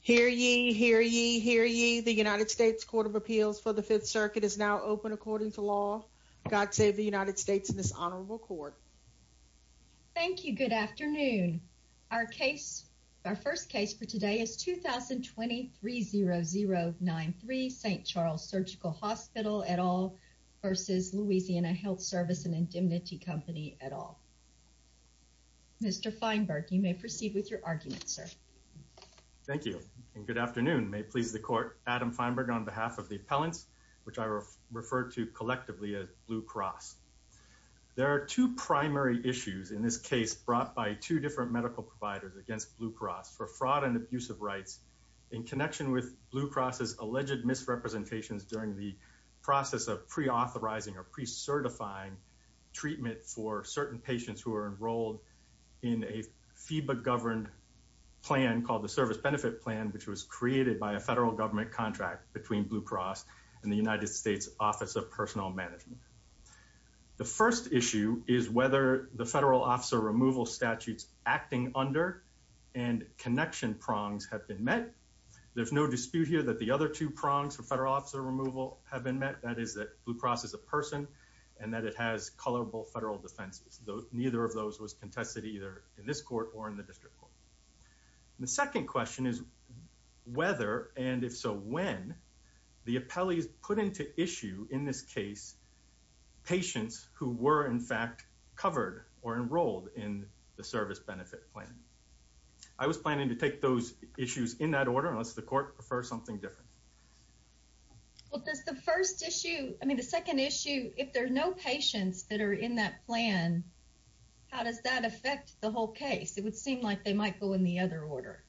Hear ye, hear ye, hear ye. The United States Court of Appeals for the Fifth Circuit is now open according to law. God save the United States and this honorable court. Thank you. Good afternoon. Our case, our first case for today is 2020-30093 St. Charles Surgical Hospital v. Louisiana Health Service and Indemnity Company et al. Mr. Feinberg, you may proceed with your argument, sir. Thank you and good afternoon. May it please the court, Adam Feinberg on behalf of the appellants, which I refer to collectively as Blue Cross. There are two primary issues in this case brought by two different medical providers against Blue Cross for fraud and abuse of rights in connection with Blue Cross's process of pre-authorizing or pre-certifying treatment for certain patients who are enrolled in a FEBA-governed plan called the Service Benefit Plan, which was created by a federal government contract between Blue Cross and the United States Office of Personnel Management. The first issue is whether the federal officer removal statutes acting under and connection prongs have been met. There's no dispute here that the other two prongs for federal officer removal have been met, that is that Blue Cross is a person and that it has colorable federal defenses. Neither of those was contested either in this court or in the district court. The second question is whether and if so when the appellees put into issue in this case patients who were in fact covered or enrolled in the Service Benefit Plan. I was planning to take those issues in that order unless the court prefers something different. Well, does the first issue, I mean the second issue, if there are no patients that are in that plan, how does that affect the whole case? It would seem like they might go in the other order.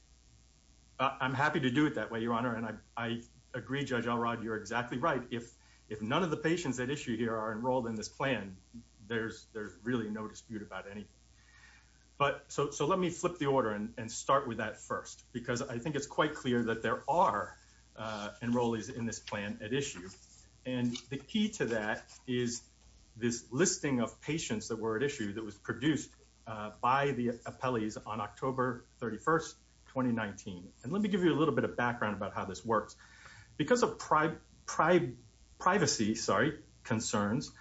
I'm happy to do it that way, Your Honor, and I agree, Judge Elrod, you're exactly right. If none of the patients at issue here are enrolled in this plan, there's really no dispute about anything. So let me flip the order and start with that first because I think it's quite clear that there are enrollees in this plan at issue. And the key to that is this listing of patients that were at issue that was produced by the appellees on October 31st, 2019. And let me give you a little bit of background about how this works. Because of privacy concerns,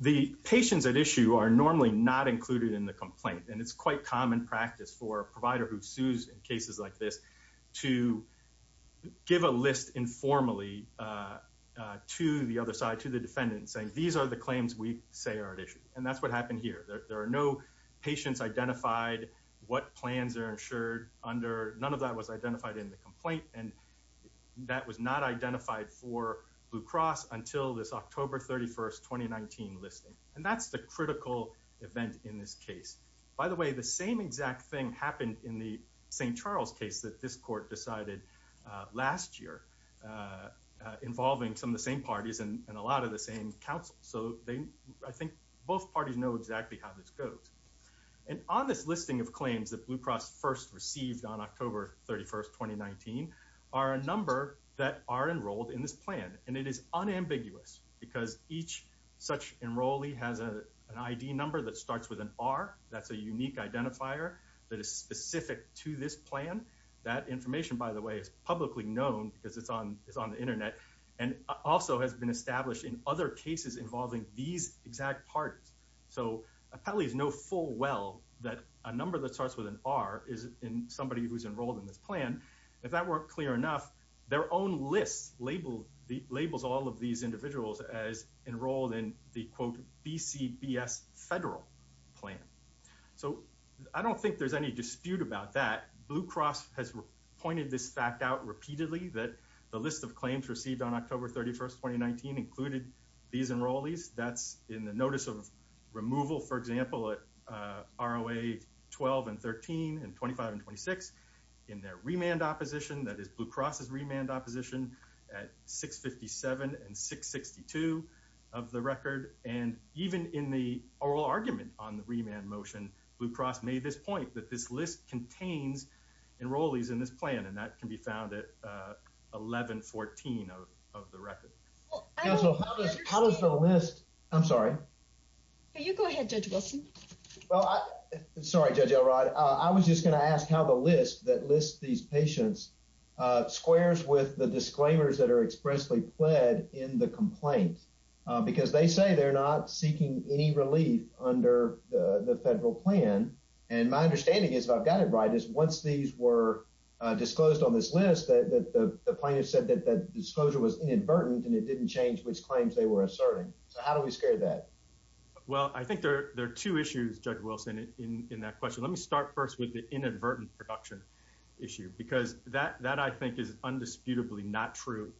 the patients at issue are normally not included in the complaint. And it's quite common practice for a provider who sues in cases like this to give a list informally to the other side, to the defendant, saying these are the claims we say are at issue. And that's what happened here. There are no patients identified, what plans are And that was not identified for Blue Cross until this October 31st, 2019 listing. And that's the critical event in this case. By the way, the same exact thing happened in the St. Charles case that this court decided last year involving some of the same parties and a lot of the same counsel. So I think both parties know exactly how this goes. And on this listing of claims that Blue Cross first received on October 31st, 2019, are a number that are enrolled in this plan. And it is unambiguous because each such enrollee has an ID number that starts with an R. That's a unique identifier that is specific to this plan. That information, by the way, is publicly known because it's on the internet and also has been established in other cases involving these exact parties. So appellees know full well that a number that starts with an R is in somebody who's enrolled in this plan. If that weren't clear enough, their own list labels all of these individuals as enrolled in the quote BCBS federal plan. So I don't think there's any dispute about that. Blue Cross has pointed this fact out repeatedly that the list of claims received on October 31st, 2019 included these enrollees. That's in the notice of removal, for example, at ROA 12 and 13 and 25 and 26 in their remand opposition. That is Blue Cross's remand opposition at 657 and 662 of the record. And even in the oral argument on the remand motion, Blue Cross made this point that this list contains enrollees in this plan. And that can be found at 1114 of the record. Counsel, how does the list? I'm sorry, you go ahead, Judge Wilson. Well, I'm sorry, Judge Elrod. I was just going to ask how the list that lists these patients squares with the disclaimers that are expressly pled in the complaint because they say they're not seeking any relief under the federal plan. And my understanding is I've got it right is once these were disclosed on this list that the plaintiff said that the disclosure was inadvertent and it didn't change which claims they were asserting. So how do we scare that? Well, I think there are two issues, Judge Wilson, in that question. Let me start first with the inadvertent production issue because that I think is undisputably not true.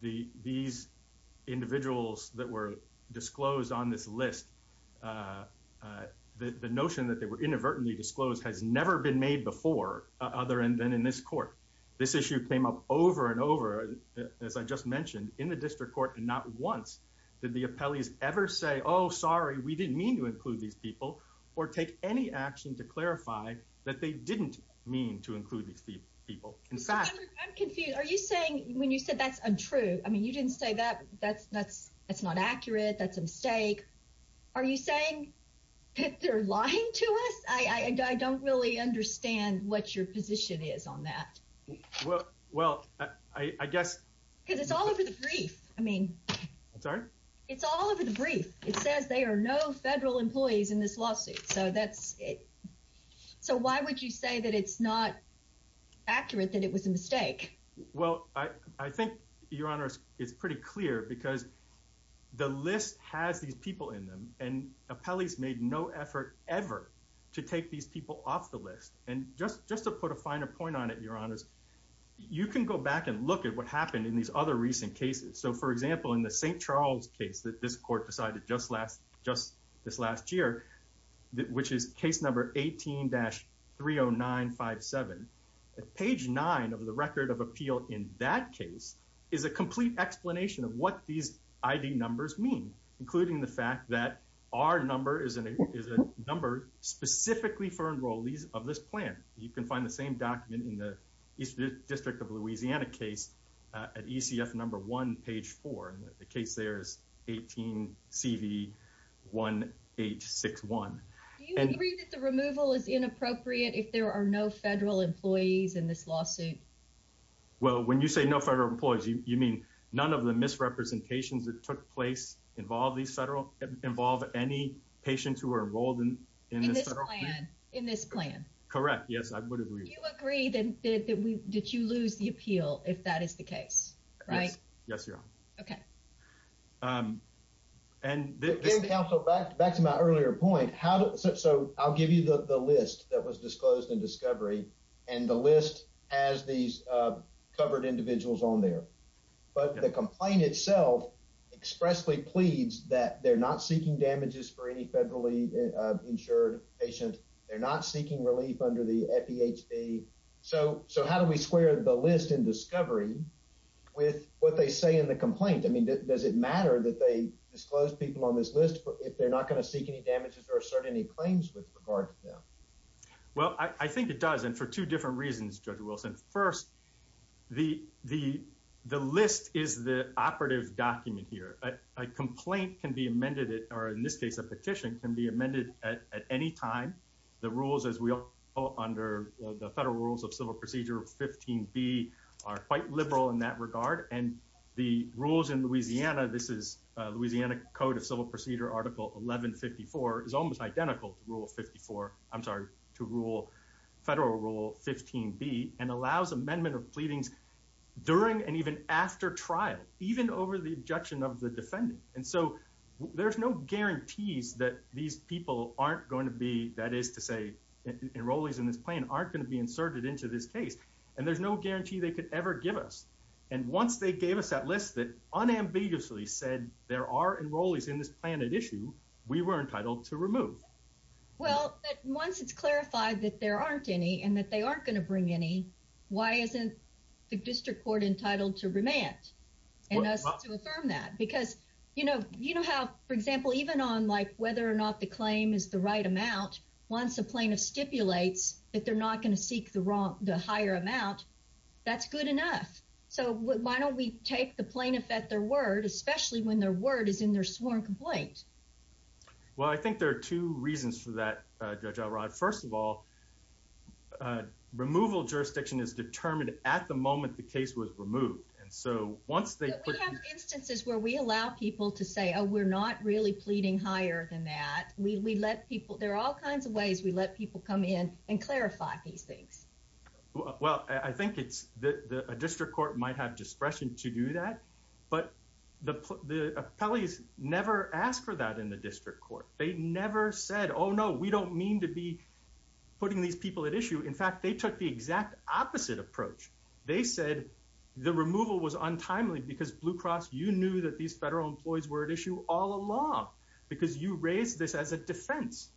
These individuals that were disclosed on this list, the notion that they were inadvertently disclosed has never been made before other than in this court. This issue came up over and over, as I just mentioned, in the district court. And not once did the appellees ever say, oh, sorry, we didn't mean to include these people or take any action to clarify that they didn't mean to include these people in fact, I'm confused. Are you saying when you said that's untrue? I mean, you didn't say that. That's that's that's not accurate. That's a mistake. Are you saying that they're lying to us? I don't really understand what your position is on that. Well, well, I guess because it's all over the brief. I mean, sorry, it's all over the brief. It says they are no federal employees in this lawsuit. So that's it. So why would you say that it's not accurate that it was a mistake? Well, I think your honor is pretty clear because the list has these people in them and appellees made no effort ever to take these people off the list. And just just to put a finer point on it, your honors, you can go back and look at what happened in these other recent cases. So, for example, in the St. Charles case that this court decided just last just this last year, which is case number 18-30957, page nine of the record of appeal in that case is a complete explanation of what these ID numbers mean, including the fact that our number is a number specifically for enrollees of this plan. You can find the same document in the District of Louisiana case at ECF number one, page four. The case there is 18-CV-1861. Do you agree that the removal is inappropriate if there are no federal employees in this lawsuit? Well, when you say no federal employees, you mean none of the misrepresentations that took place involve these federal involve any patients who are enrolled in this plan? Correct. Yes, I would agree. You agree that we did you lose the appeal if that is the case, right? Yes, your honor. Okay. And back to my earlier point, how so I'll give you the list that was disclosed in discovery and the list as these covered individuals on there. But the complaint itself expressly pleads that they're not seeking damages for any federally insured patient. They're not seeking relief under the FDHC. So so how do we square the list in discovery with what they say in the complaint? I mean, does it matter that they disclose people on this list if they're not going to seek any damages or assert any claims with regard to them? Well, I think it does. And for two different reasons, Judge Wilson, first, the the the list is the operative document here. A complaint can be amended or in this case, a petition can be amended at any time. The rules as we all under the federal rules of civil procedure 15 B are quite liberal in that regard. And the rules in Louisiana, this is Louisiana Code of Civil Procedure. Article 1154 is almost identical to Rule 54. I'm sorry to rule federal Rule 15 B and allows amendment of pleadings during and even after trial, even over the objection of the defendant. And so there's no guarantees that these people aren't going to be. That is to say, enrollees in this plane aren't going to be inserted into this case. And there's no guarantee they could ever give us. And once they gave us that list that unambiguously said there are enrollees in this planet issue, we were entitled to remove. Well, once it's clarified that there aren't any and that they aren't going to bring any, why isn't the district court entitled to remand and us to affirm that? Because, you know, you know how, for example, even on like whether or not the claim is the right amount. Once a plaintiff stipulates that they're not going to seek the wrong, the higher amount, that's good enough. So why don't we take the plaintiff at their word, especially when their word is in their sworn complaint? Well, I think there are two reasons for that, Judge Elrod. First of all, removal jurisdiction is determined at the moment the case was removed. And so once they put instances where we allow people to say, Oh, we're not really pleading higher than that. We let people there are all kinds of ways. We let people come in and clarify these things. Well, I think it's the district court might have discretion to do that. But the appellees never asked for that in the district court. They never said, Oh, no, we don't mean to be putting these people at issue. In fact, they took the exact opposite approach. They said the removal was untimely because Blue Cross, you knew that these federal employees were at issue all along because you raised this as a defense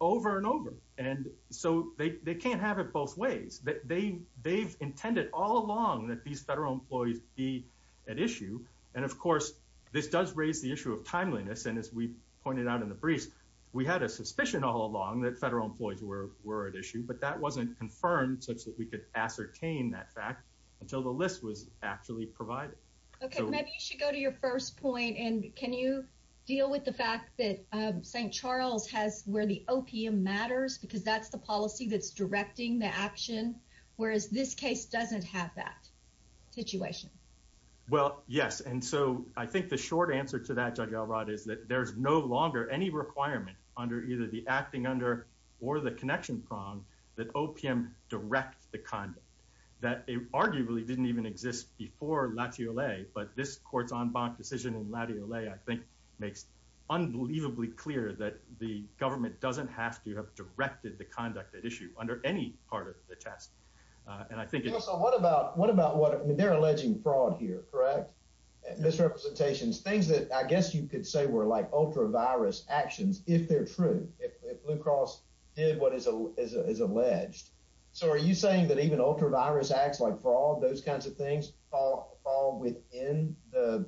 over and over. And so they can't have it both ways that they they've intended all along that these federal employees be at issue. And of course, this does raise the issue of timeliness. And as we pointed out in the briefs, we had a suspicion all along that federal employees were were at issue. But that wasn't confirmed such that we could ascertain that fact until the list was actually provided. Okay, maybe you should go to your first point. And can you deal with the fact that St. Charles has where the OPM matters? Because that's the policy that's directing the action, whereas this case doesn't have that situation? Well, yes. And so I think the short answer to that, Judge Elrod, is that there's no longer any requirement under either the acting under or the connection prong that OPM direct the conduct that arguably didn't even exist before Latiole. But this court's en banc decision in Latiole, I think, makes unbelievably clear that the government doesn't have to have directed the conduct that issue under any part of the test. And I think so. What about what about what? They're alleging fraud here, correct? Misrepresentations, things that I guess you could say were like ultra virus actions if they're true, if Blue Cross did what is alleged. So are you saying that even ultra virus acts like for all those kinds of things fall within the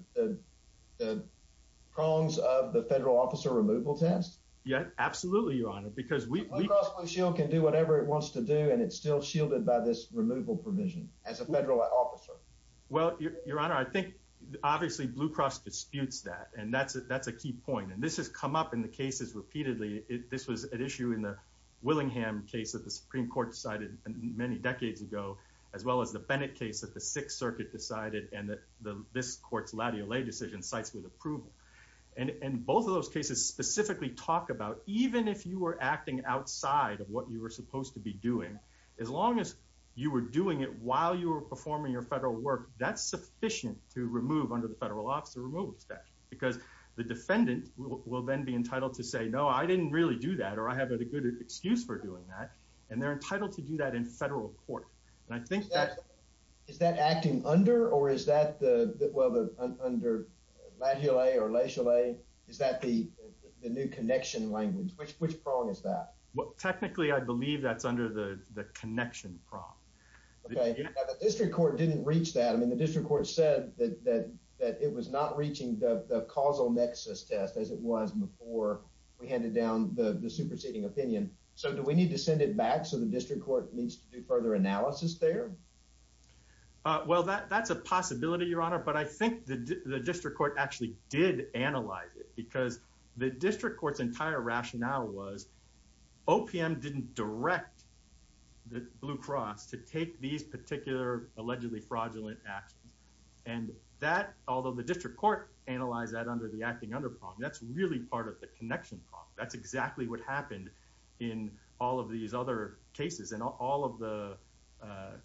prongs of the federal officer removal test? Yeah, absolutely, Your Honor. Because Blue Cross Blue Shield can do whatever it wants to do, and it's still shielded by this removal provision as a federal officer. Well, Your Honor, I think obviously Blue Cross disputes that, and that's a key point. And this has come up in the cases repeatedly. This was an issue in the Willingham case that the Supreme Court decided many decades ago, as well as the Bennett case that the Sixth Both of those cases specifically talk about, even if you were acting outside of what you were supposed to be doing, as long as you were doing it while you were performing your federal work, that's sufficient to remove under the federal officer removal statute, because the defendant will then be entitled to say, No, I didn't really do that, or I have a good excuse for doing that. And they're entitled to do that in federal court. And is that the new connection language? Which prong is that? Well, technically, I believe that's under the connection prong. Okay. The district court didn't reach that. I mean, the district court said that it was not reaching the causal nexus test as it was before we handed down the superseding opinion. So do we need to send it back so the district court needs to do further analysis there? Well, that's a possibility, Your Honor. But I think the district court actually did analyze it, because the district court's entire rationale was OPM didn't direct the Blue Cross to take these particular allegedly fraudulent actions. And that, although the district court analyzed that under the acting under prong, that's really part of the connection prong. That's exactly what happened in all of these other cases. And all of the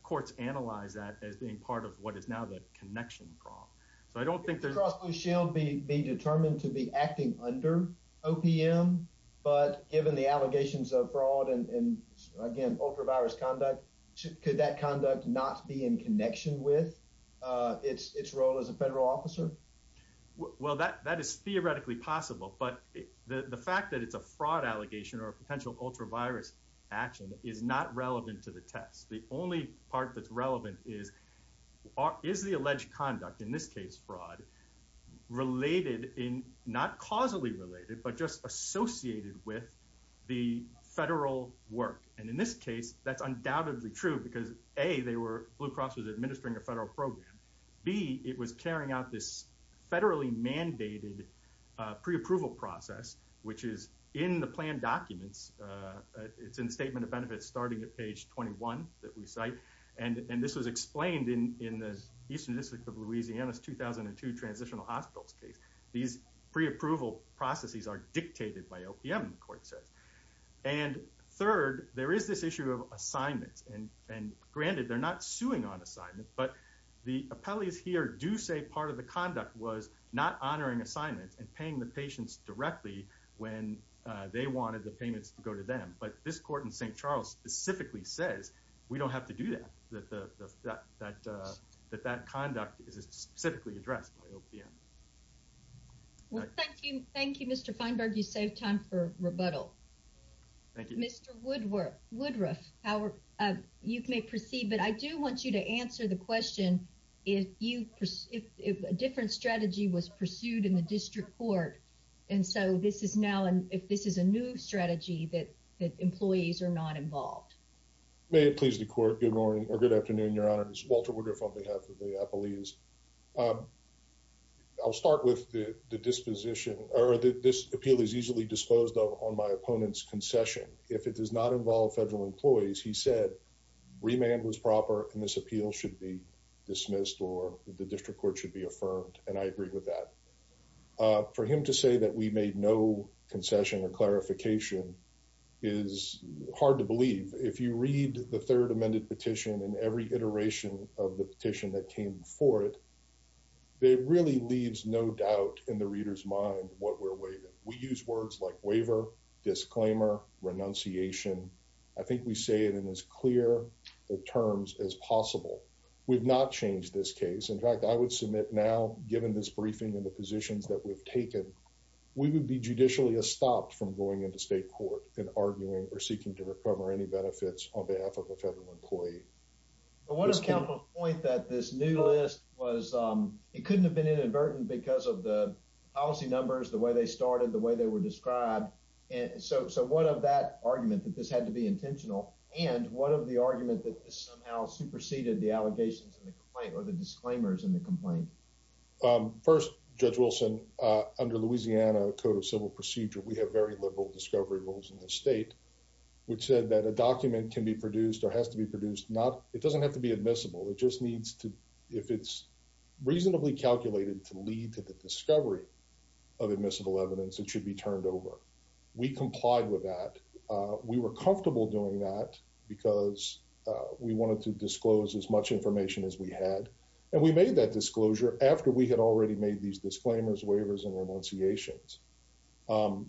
courts analyzed that as being part of what is now the connection prong. So I don't think the cross blue shield be determined to be acting under OPM. But given the allegations of fraud and again, ultra virus conduct, could that conduct not be in connection with its role as a federal officer? Well, that is theoretically possible. But the fact that it's a fraud allegation or potential ultra virus action is not relevant to the test. The only part that's relevant is, is the alleged conduct in this case fraud related in not causally related, but just associated with the federal work. And in this case, that's undoubtedly true, because A, they were Blue Cross was administering a federal program. B, it was carrying out this federally mandated pre approval process, which is in the plan documents. It's in the statement of benefits starting at page 21 that we cite. And this was explained in the Eastern District of Louisiana's 2002 transitional hospitals case. These pre approval processes are dictated by OPM, the court says. And third, there is this issue of assignments. And granted, they're not suing on assignment. But the appellees here do say part of the conduct was not honoring assignments and paying the patients directly when they wanted the payments to go to them. But this court in St. Charles specifically says we don't have to do that. That that that that that conduct is specifically addressed by OPM. Well, thank you. Thank you, Mr. Feinberg. You save time for rebuttal. Thank you, Mr. Woodward. Woodruff, however, you may proceed. But I do want you to answer the question if you if a different strategy was pursued in the district court. And so this is now and if this is a new strategy that that employees are not involved. May it please the court. Good morning or good afternoon, Your Honors. Walter Woodruff on behalf of the appellees. I'll start with the disposition or this appeal is easily disposed of on my opponent's concession. If it does not involve federal employees, he said remand was proper and this appeal should be dismissed or the district court should be affirmed. And I agree with that. For him to say that we made no concession or clarification is hard to believe. If you read the third amended petition and every iteration of the petition that came for it. It really leaves no doubt in the reader's mind what we're waiting. We terms as possible. We've not changed this case. In fact, I would submit now, given this briefing and the positions that we've taken, we would be judicially a stopped from going into state court and arguing or seeking to recover any benefits on behalf of a federal employee. What a point that this new list was. It couldn't have been inadvertent because of the policy numbers, the way they started, the way they were described. And so so what of that argument that this had to be intentional? And what of the argument that somehow superseded the allegations in the complaint or the disclaimers in the complaint? First, Judge Wilson, under Louisiana Code of Civil Procedure, we have very liberal discovery rules in the state which said that a document can be produced or has to be produced. Not it doesn't have to be admissible. It just needs to if it's reasonably calculated to lead to the discovery of admissible evidence, it should be turned over. We complied with that. We were comfortable doing that because we wanted to disclose as much information as we had. And we made that disclosure after we had already made these disclaimers, waivers and renunciations.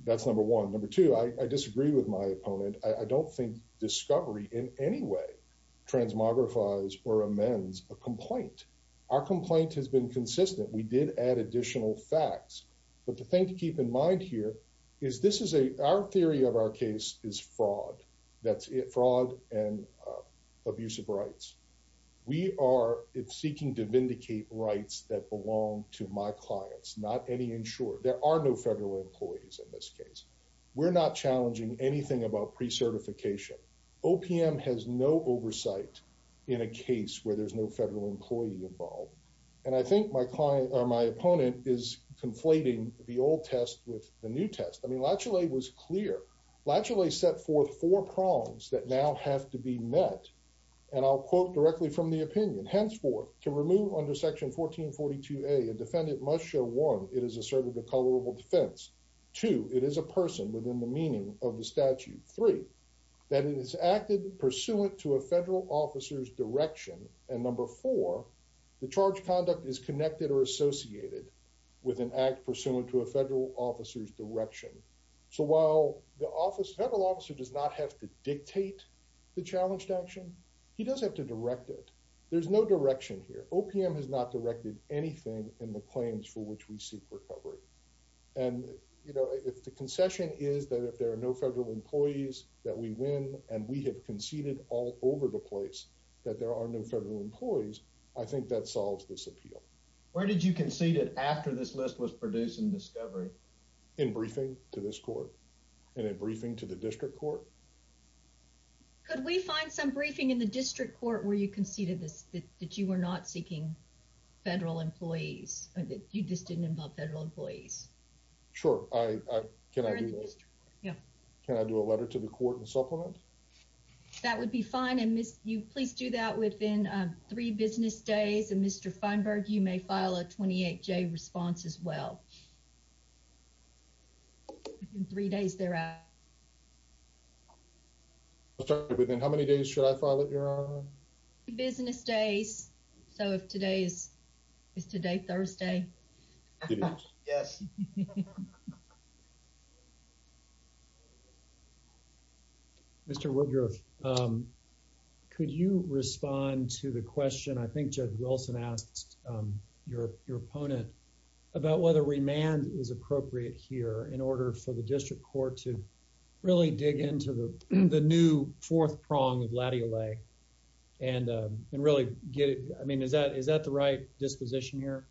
That's number one. Number two, I disagree with my opponent. I don't think discovery in any way transmogrifies or amends a complaint. Our complaint has been consistent. We did add additional facts. But the thing to keep in mind here is this is a our theory of our case is fraud. That's it. Fraud and abusive rights. We are seeking to vindicate rights that belong to my clients, not any insured. There are no federal employees in this case. We're not challenging anything about precertification. OPM has no oversight in a case where there's no federal employee involved. And I think my client or my opponent is conflating the old test with the new test. I mean, Latchley was clear. Latchley set forth four prongs that now have to be met. And I'll quote directly from the opinion. Henceforth, to remove under Section 1442A, a defendant must show one, it is asserted a colorable defense. Two, it is a person within the meaning of the statute. Three, that it is acted pursuant to a federal officer's direction. And number four, the charge conduct is connected or associated with an act pursuant to a federal officer's direction. So while the office, federal officer does not have to dictate the challenged action, he does have to direct it. There's no direction here. OPM has not directed anything in the claims for which we seek recovery. And, you know, if the concession is that if there are no federal employees that we win, and we have conceded all over the place that there are no federal employees, I think that solves this appeal. Where did you concede it after this list was produced in discovery? In briefing to this court and in briefing to the district court. Could we find some briefing in the district court where you conceded this, that you were not seeking federal employees or that you just didn't involve federal employees? Sure. Can I do a letter to the court and supplement? That would be fine. And Miss, you please do that within three business days and Mr. Feinberg, you may file a 28 J response as well. In three days there. Within how many days should I file it? Business days. So if today is today, Thursday. Mr. Woodruff, could you respond to the question? I think Judge Wilson asked your opponent about whether remand is appropriate here in order for the district court to really dig into the new fourth prong of Latty Allay and really get it. I mean, is that the right disposition here?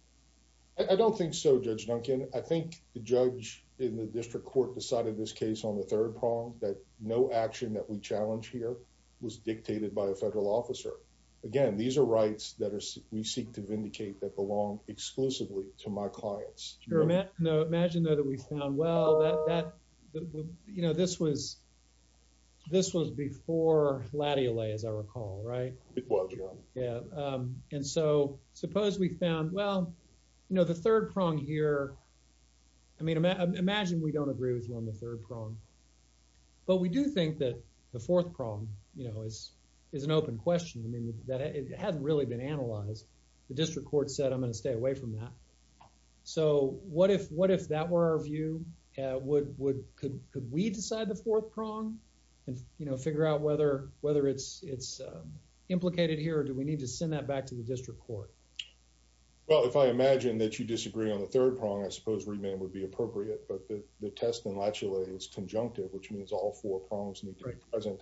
I don't think so, Judge Duncan. I think the judge in the district court decided this case on the third prong that no action that we challenge here was dictated by a federal officer. Again, these are rights that we seek to vindicate that belong exclusively to my clients. Imagine though that we found, well, that, you know, this was, this was before Latty Allay, as I recall, right? Yeah. And so suppose we found, well, you know, the third prong here, I mean, imagine we don't agree with you on the third prong. But we do think that the fourth prong, you know, is an open question. I mean, that it hasn't really been analyzed. The district court said, I'm going to stay away from that. So what if, what if that were our view? Yeah. Would, would, could, could we decide the fourth prong and, you know, figure out whether, whether it's, it's implicated here or do we need to send that back to the district court? Well, if I imagine that you disagree on the third prong, I suppose remand would be appropriate, but the test in Latty Allay is conjunctive, which means all four prongs need to be present.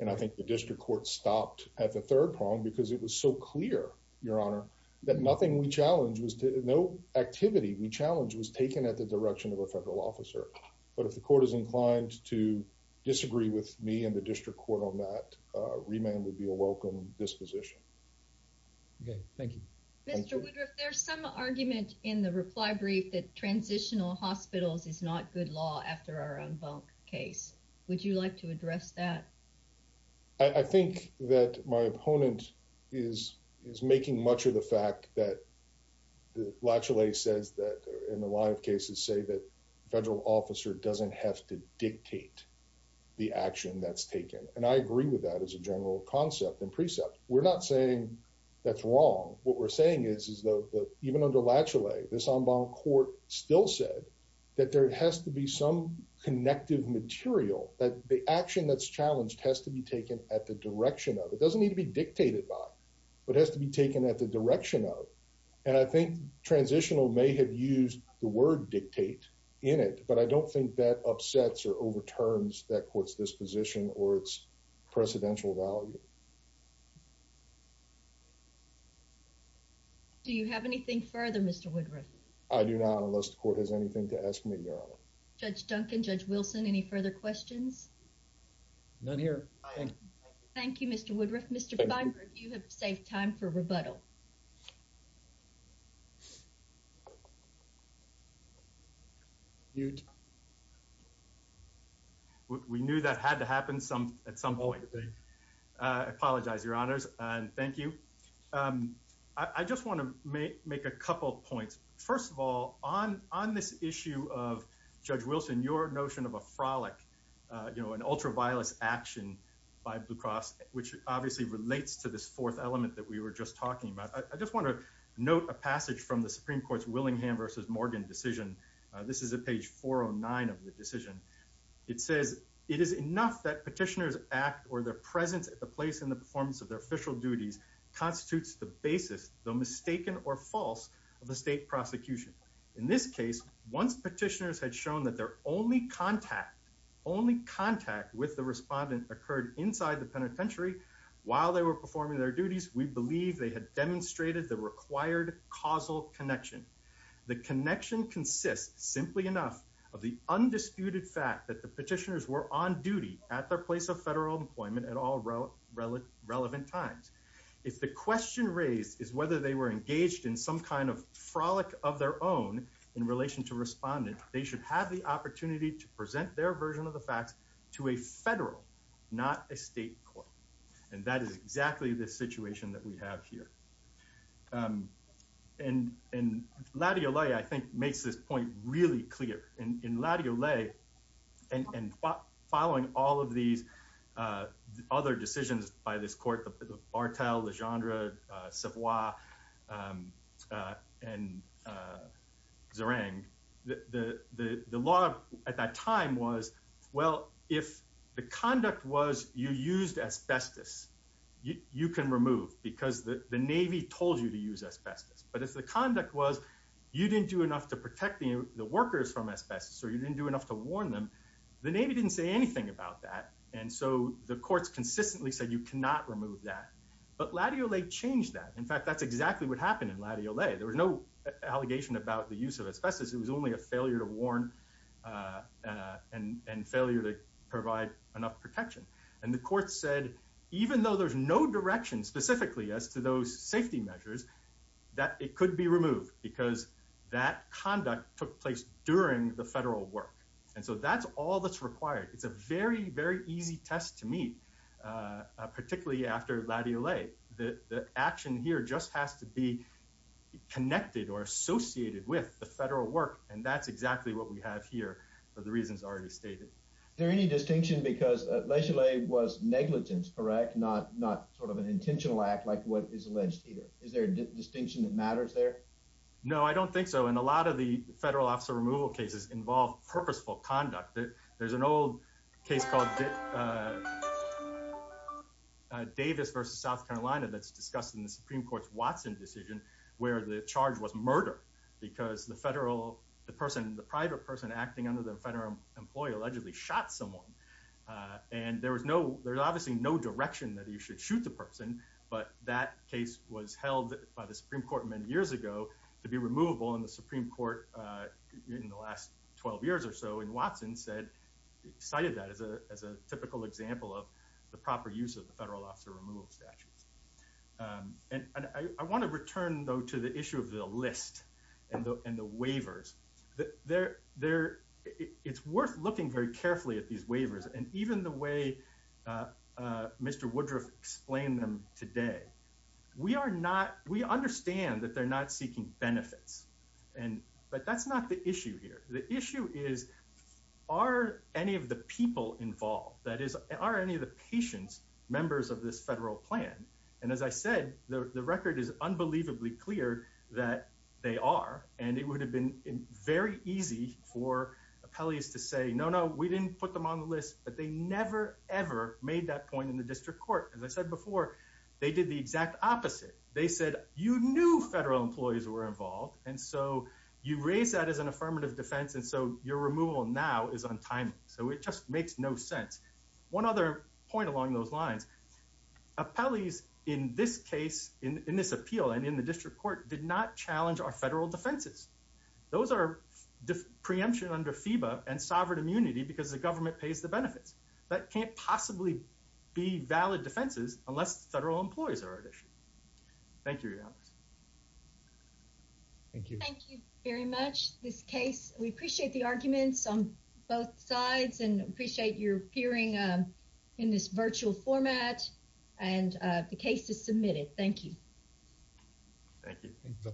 And I think the district court stopped at the third prong because it was so clear, Your Honor, that nothing we challenged was to, no activity we challenged was taken at the direction of a federal officer. But if the court is inclined to disagree with me and the district court on that, remand would be a welcome disposition. Okay. Thank you. Mr. Woodruff, there's some argument in the reply brief that transitional hospitals is not good law after our en banc case. Would you like to address that? I think that my opponent is, is making much of the fact that Latty Allay says that in a lot of cases say that federal officer doesn't have to dictate the action that's taken. And I agree with that as a general concept and precept. We're not saying that's wrong. What we're saying is, is that even under Latty Allay, this en banc court still said that there has to be some connective material, that the action that's challenged has to be taken at the direction of, it doesn't need to be dictated by, but has to be taken at the direction of. And I think transitional may have used the word dictate in it, but I don't think that upsets or overturns that court's disposition or its precedential value. Do you have anything further, Mr. Woodruff? I do not, unless the court has anything to ask me. Judge Duncan, Judge Wilson, any further questions? None here. Thank you, Mr. Woodruff. Mr. Feinberg, you have saved time for rebuttal. We knew that had to happen at some point. I apologize, Your Honors, and thank you. I just want to make a couple points. First of all, on this issue of Judge Wilson, your notion of a frolic, you know, an ultraviolet action by Blue Cross, which obviously relates to this fourth element that we were just talking about. I just want to note a passage from the Supreme Court's Willingham v. Morgan decision. This is at page 409 of the decision. It says, it is enough that petitioners act or their presence at the place in the performance of their official duties constitutes the basis, though mistaken or false, of the state prosecution. In this case, once petitioners had shown that their only contact, only contact with the respondent occurred inside the penitentiary while they were performing their duties, we believe they had demonstrated the required causal connection. The connection consists, simply enough, of the undisputed fact that the petitioners were on duty at their place of federal employment at all relevant times. If the question raised is whether they were engaged in some kind of frolic of their own in relation to respondent, they should have the opportunity to present their version of the facts to a federal, not a state court. And that is exactly the situation that we have here. And Ladiolet, I think, makes this point really clear. In Ladiolet, and following all of these other decisions by this court, Bartel, Legendre, Savoy, and Zerang, the law at that time was, well, if the conduct was you used asbestos, you can remove because the Navy told you to use asbestos. But if the conduct was you didn't do enough to protect the workers from asbestos, or you didn't do enough to warn them, the Navy didn't say anything about that. And so the courts consistently said you cannot remove that. But Ladiolet changed that. In fact, that's exactly what happened in Ladiolet. There was no allegation about the use of asbestos. It was only a failure to warn and failure to provide enough protection. And the court said, even though there's no direction specifically as to those safety measures, that it could be removed because that conduct took place during the federal work. And so that's all that's required. It's a very, very easy test to meet, particularly after Ladiolet. The action here just has to be connected or associated with the federal work. And that's exactly what we have here for the reasons already stated. Is there any distinction because Ladiolet was negligent, correct? Not sort of an intentional act like what is alleged here. Is there a distinction that matters there? No, I don't think so. And a lot of the federal officer removal cases involve purposeful conduct. There's an old case called Davis versus South Carolina that's discussed in the Supreme Court's Watson decision where the charge was murder because the federal, the person, the private person acting under the federal employee allegedly shot someone. And there was no, there's obviously no direction that you should shoot the person. But that case was held by the Supreme Court many years ago to be removable in the Supreme Court in the last 12 years or so in cited that as a typical example of the proper use of the federal officer removal statutes. And I want to return though to the issue of the list and the waivers. It's worth looking very carefully at these waivers. And even the way Mr. Woodruff explained them today, we are not, we understand that they're not seeking benefits. But that's not the issue here. The issue is are any of the people involved, that is, are any of the patients members of this federal plan? And as I said, the record is unbelievably clear that they are. And it would have been very easy for appellees to say, no, no, we didn't put them on the list, but they never ever made that point in the district court. As I said before, they did the exact opposite. They said, you knew federal employees were involved. And so you raise that as an affirmative defense. And so your removal now is untimely. So it just makes no sense. One other point along those lines, appellees in this case, in this appeal and in the district court did not challenge our federal defenses. Those are preemption under FEBA and sovereign immunity because the government pays the benefits. That can't possibly be valid defenses unless the federal employees are at issue. Thank you. Thank you. Thank you very much. This case, we appreciate the arguments on both sides and appreciate your hearing in this virtual format and the case is submitted. Thank you. Thank you.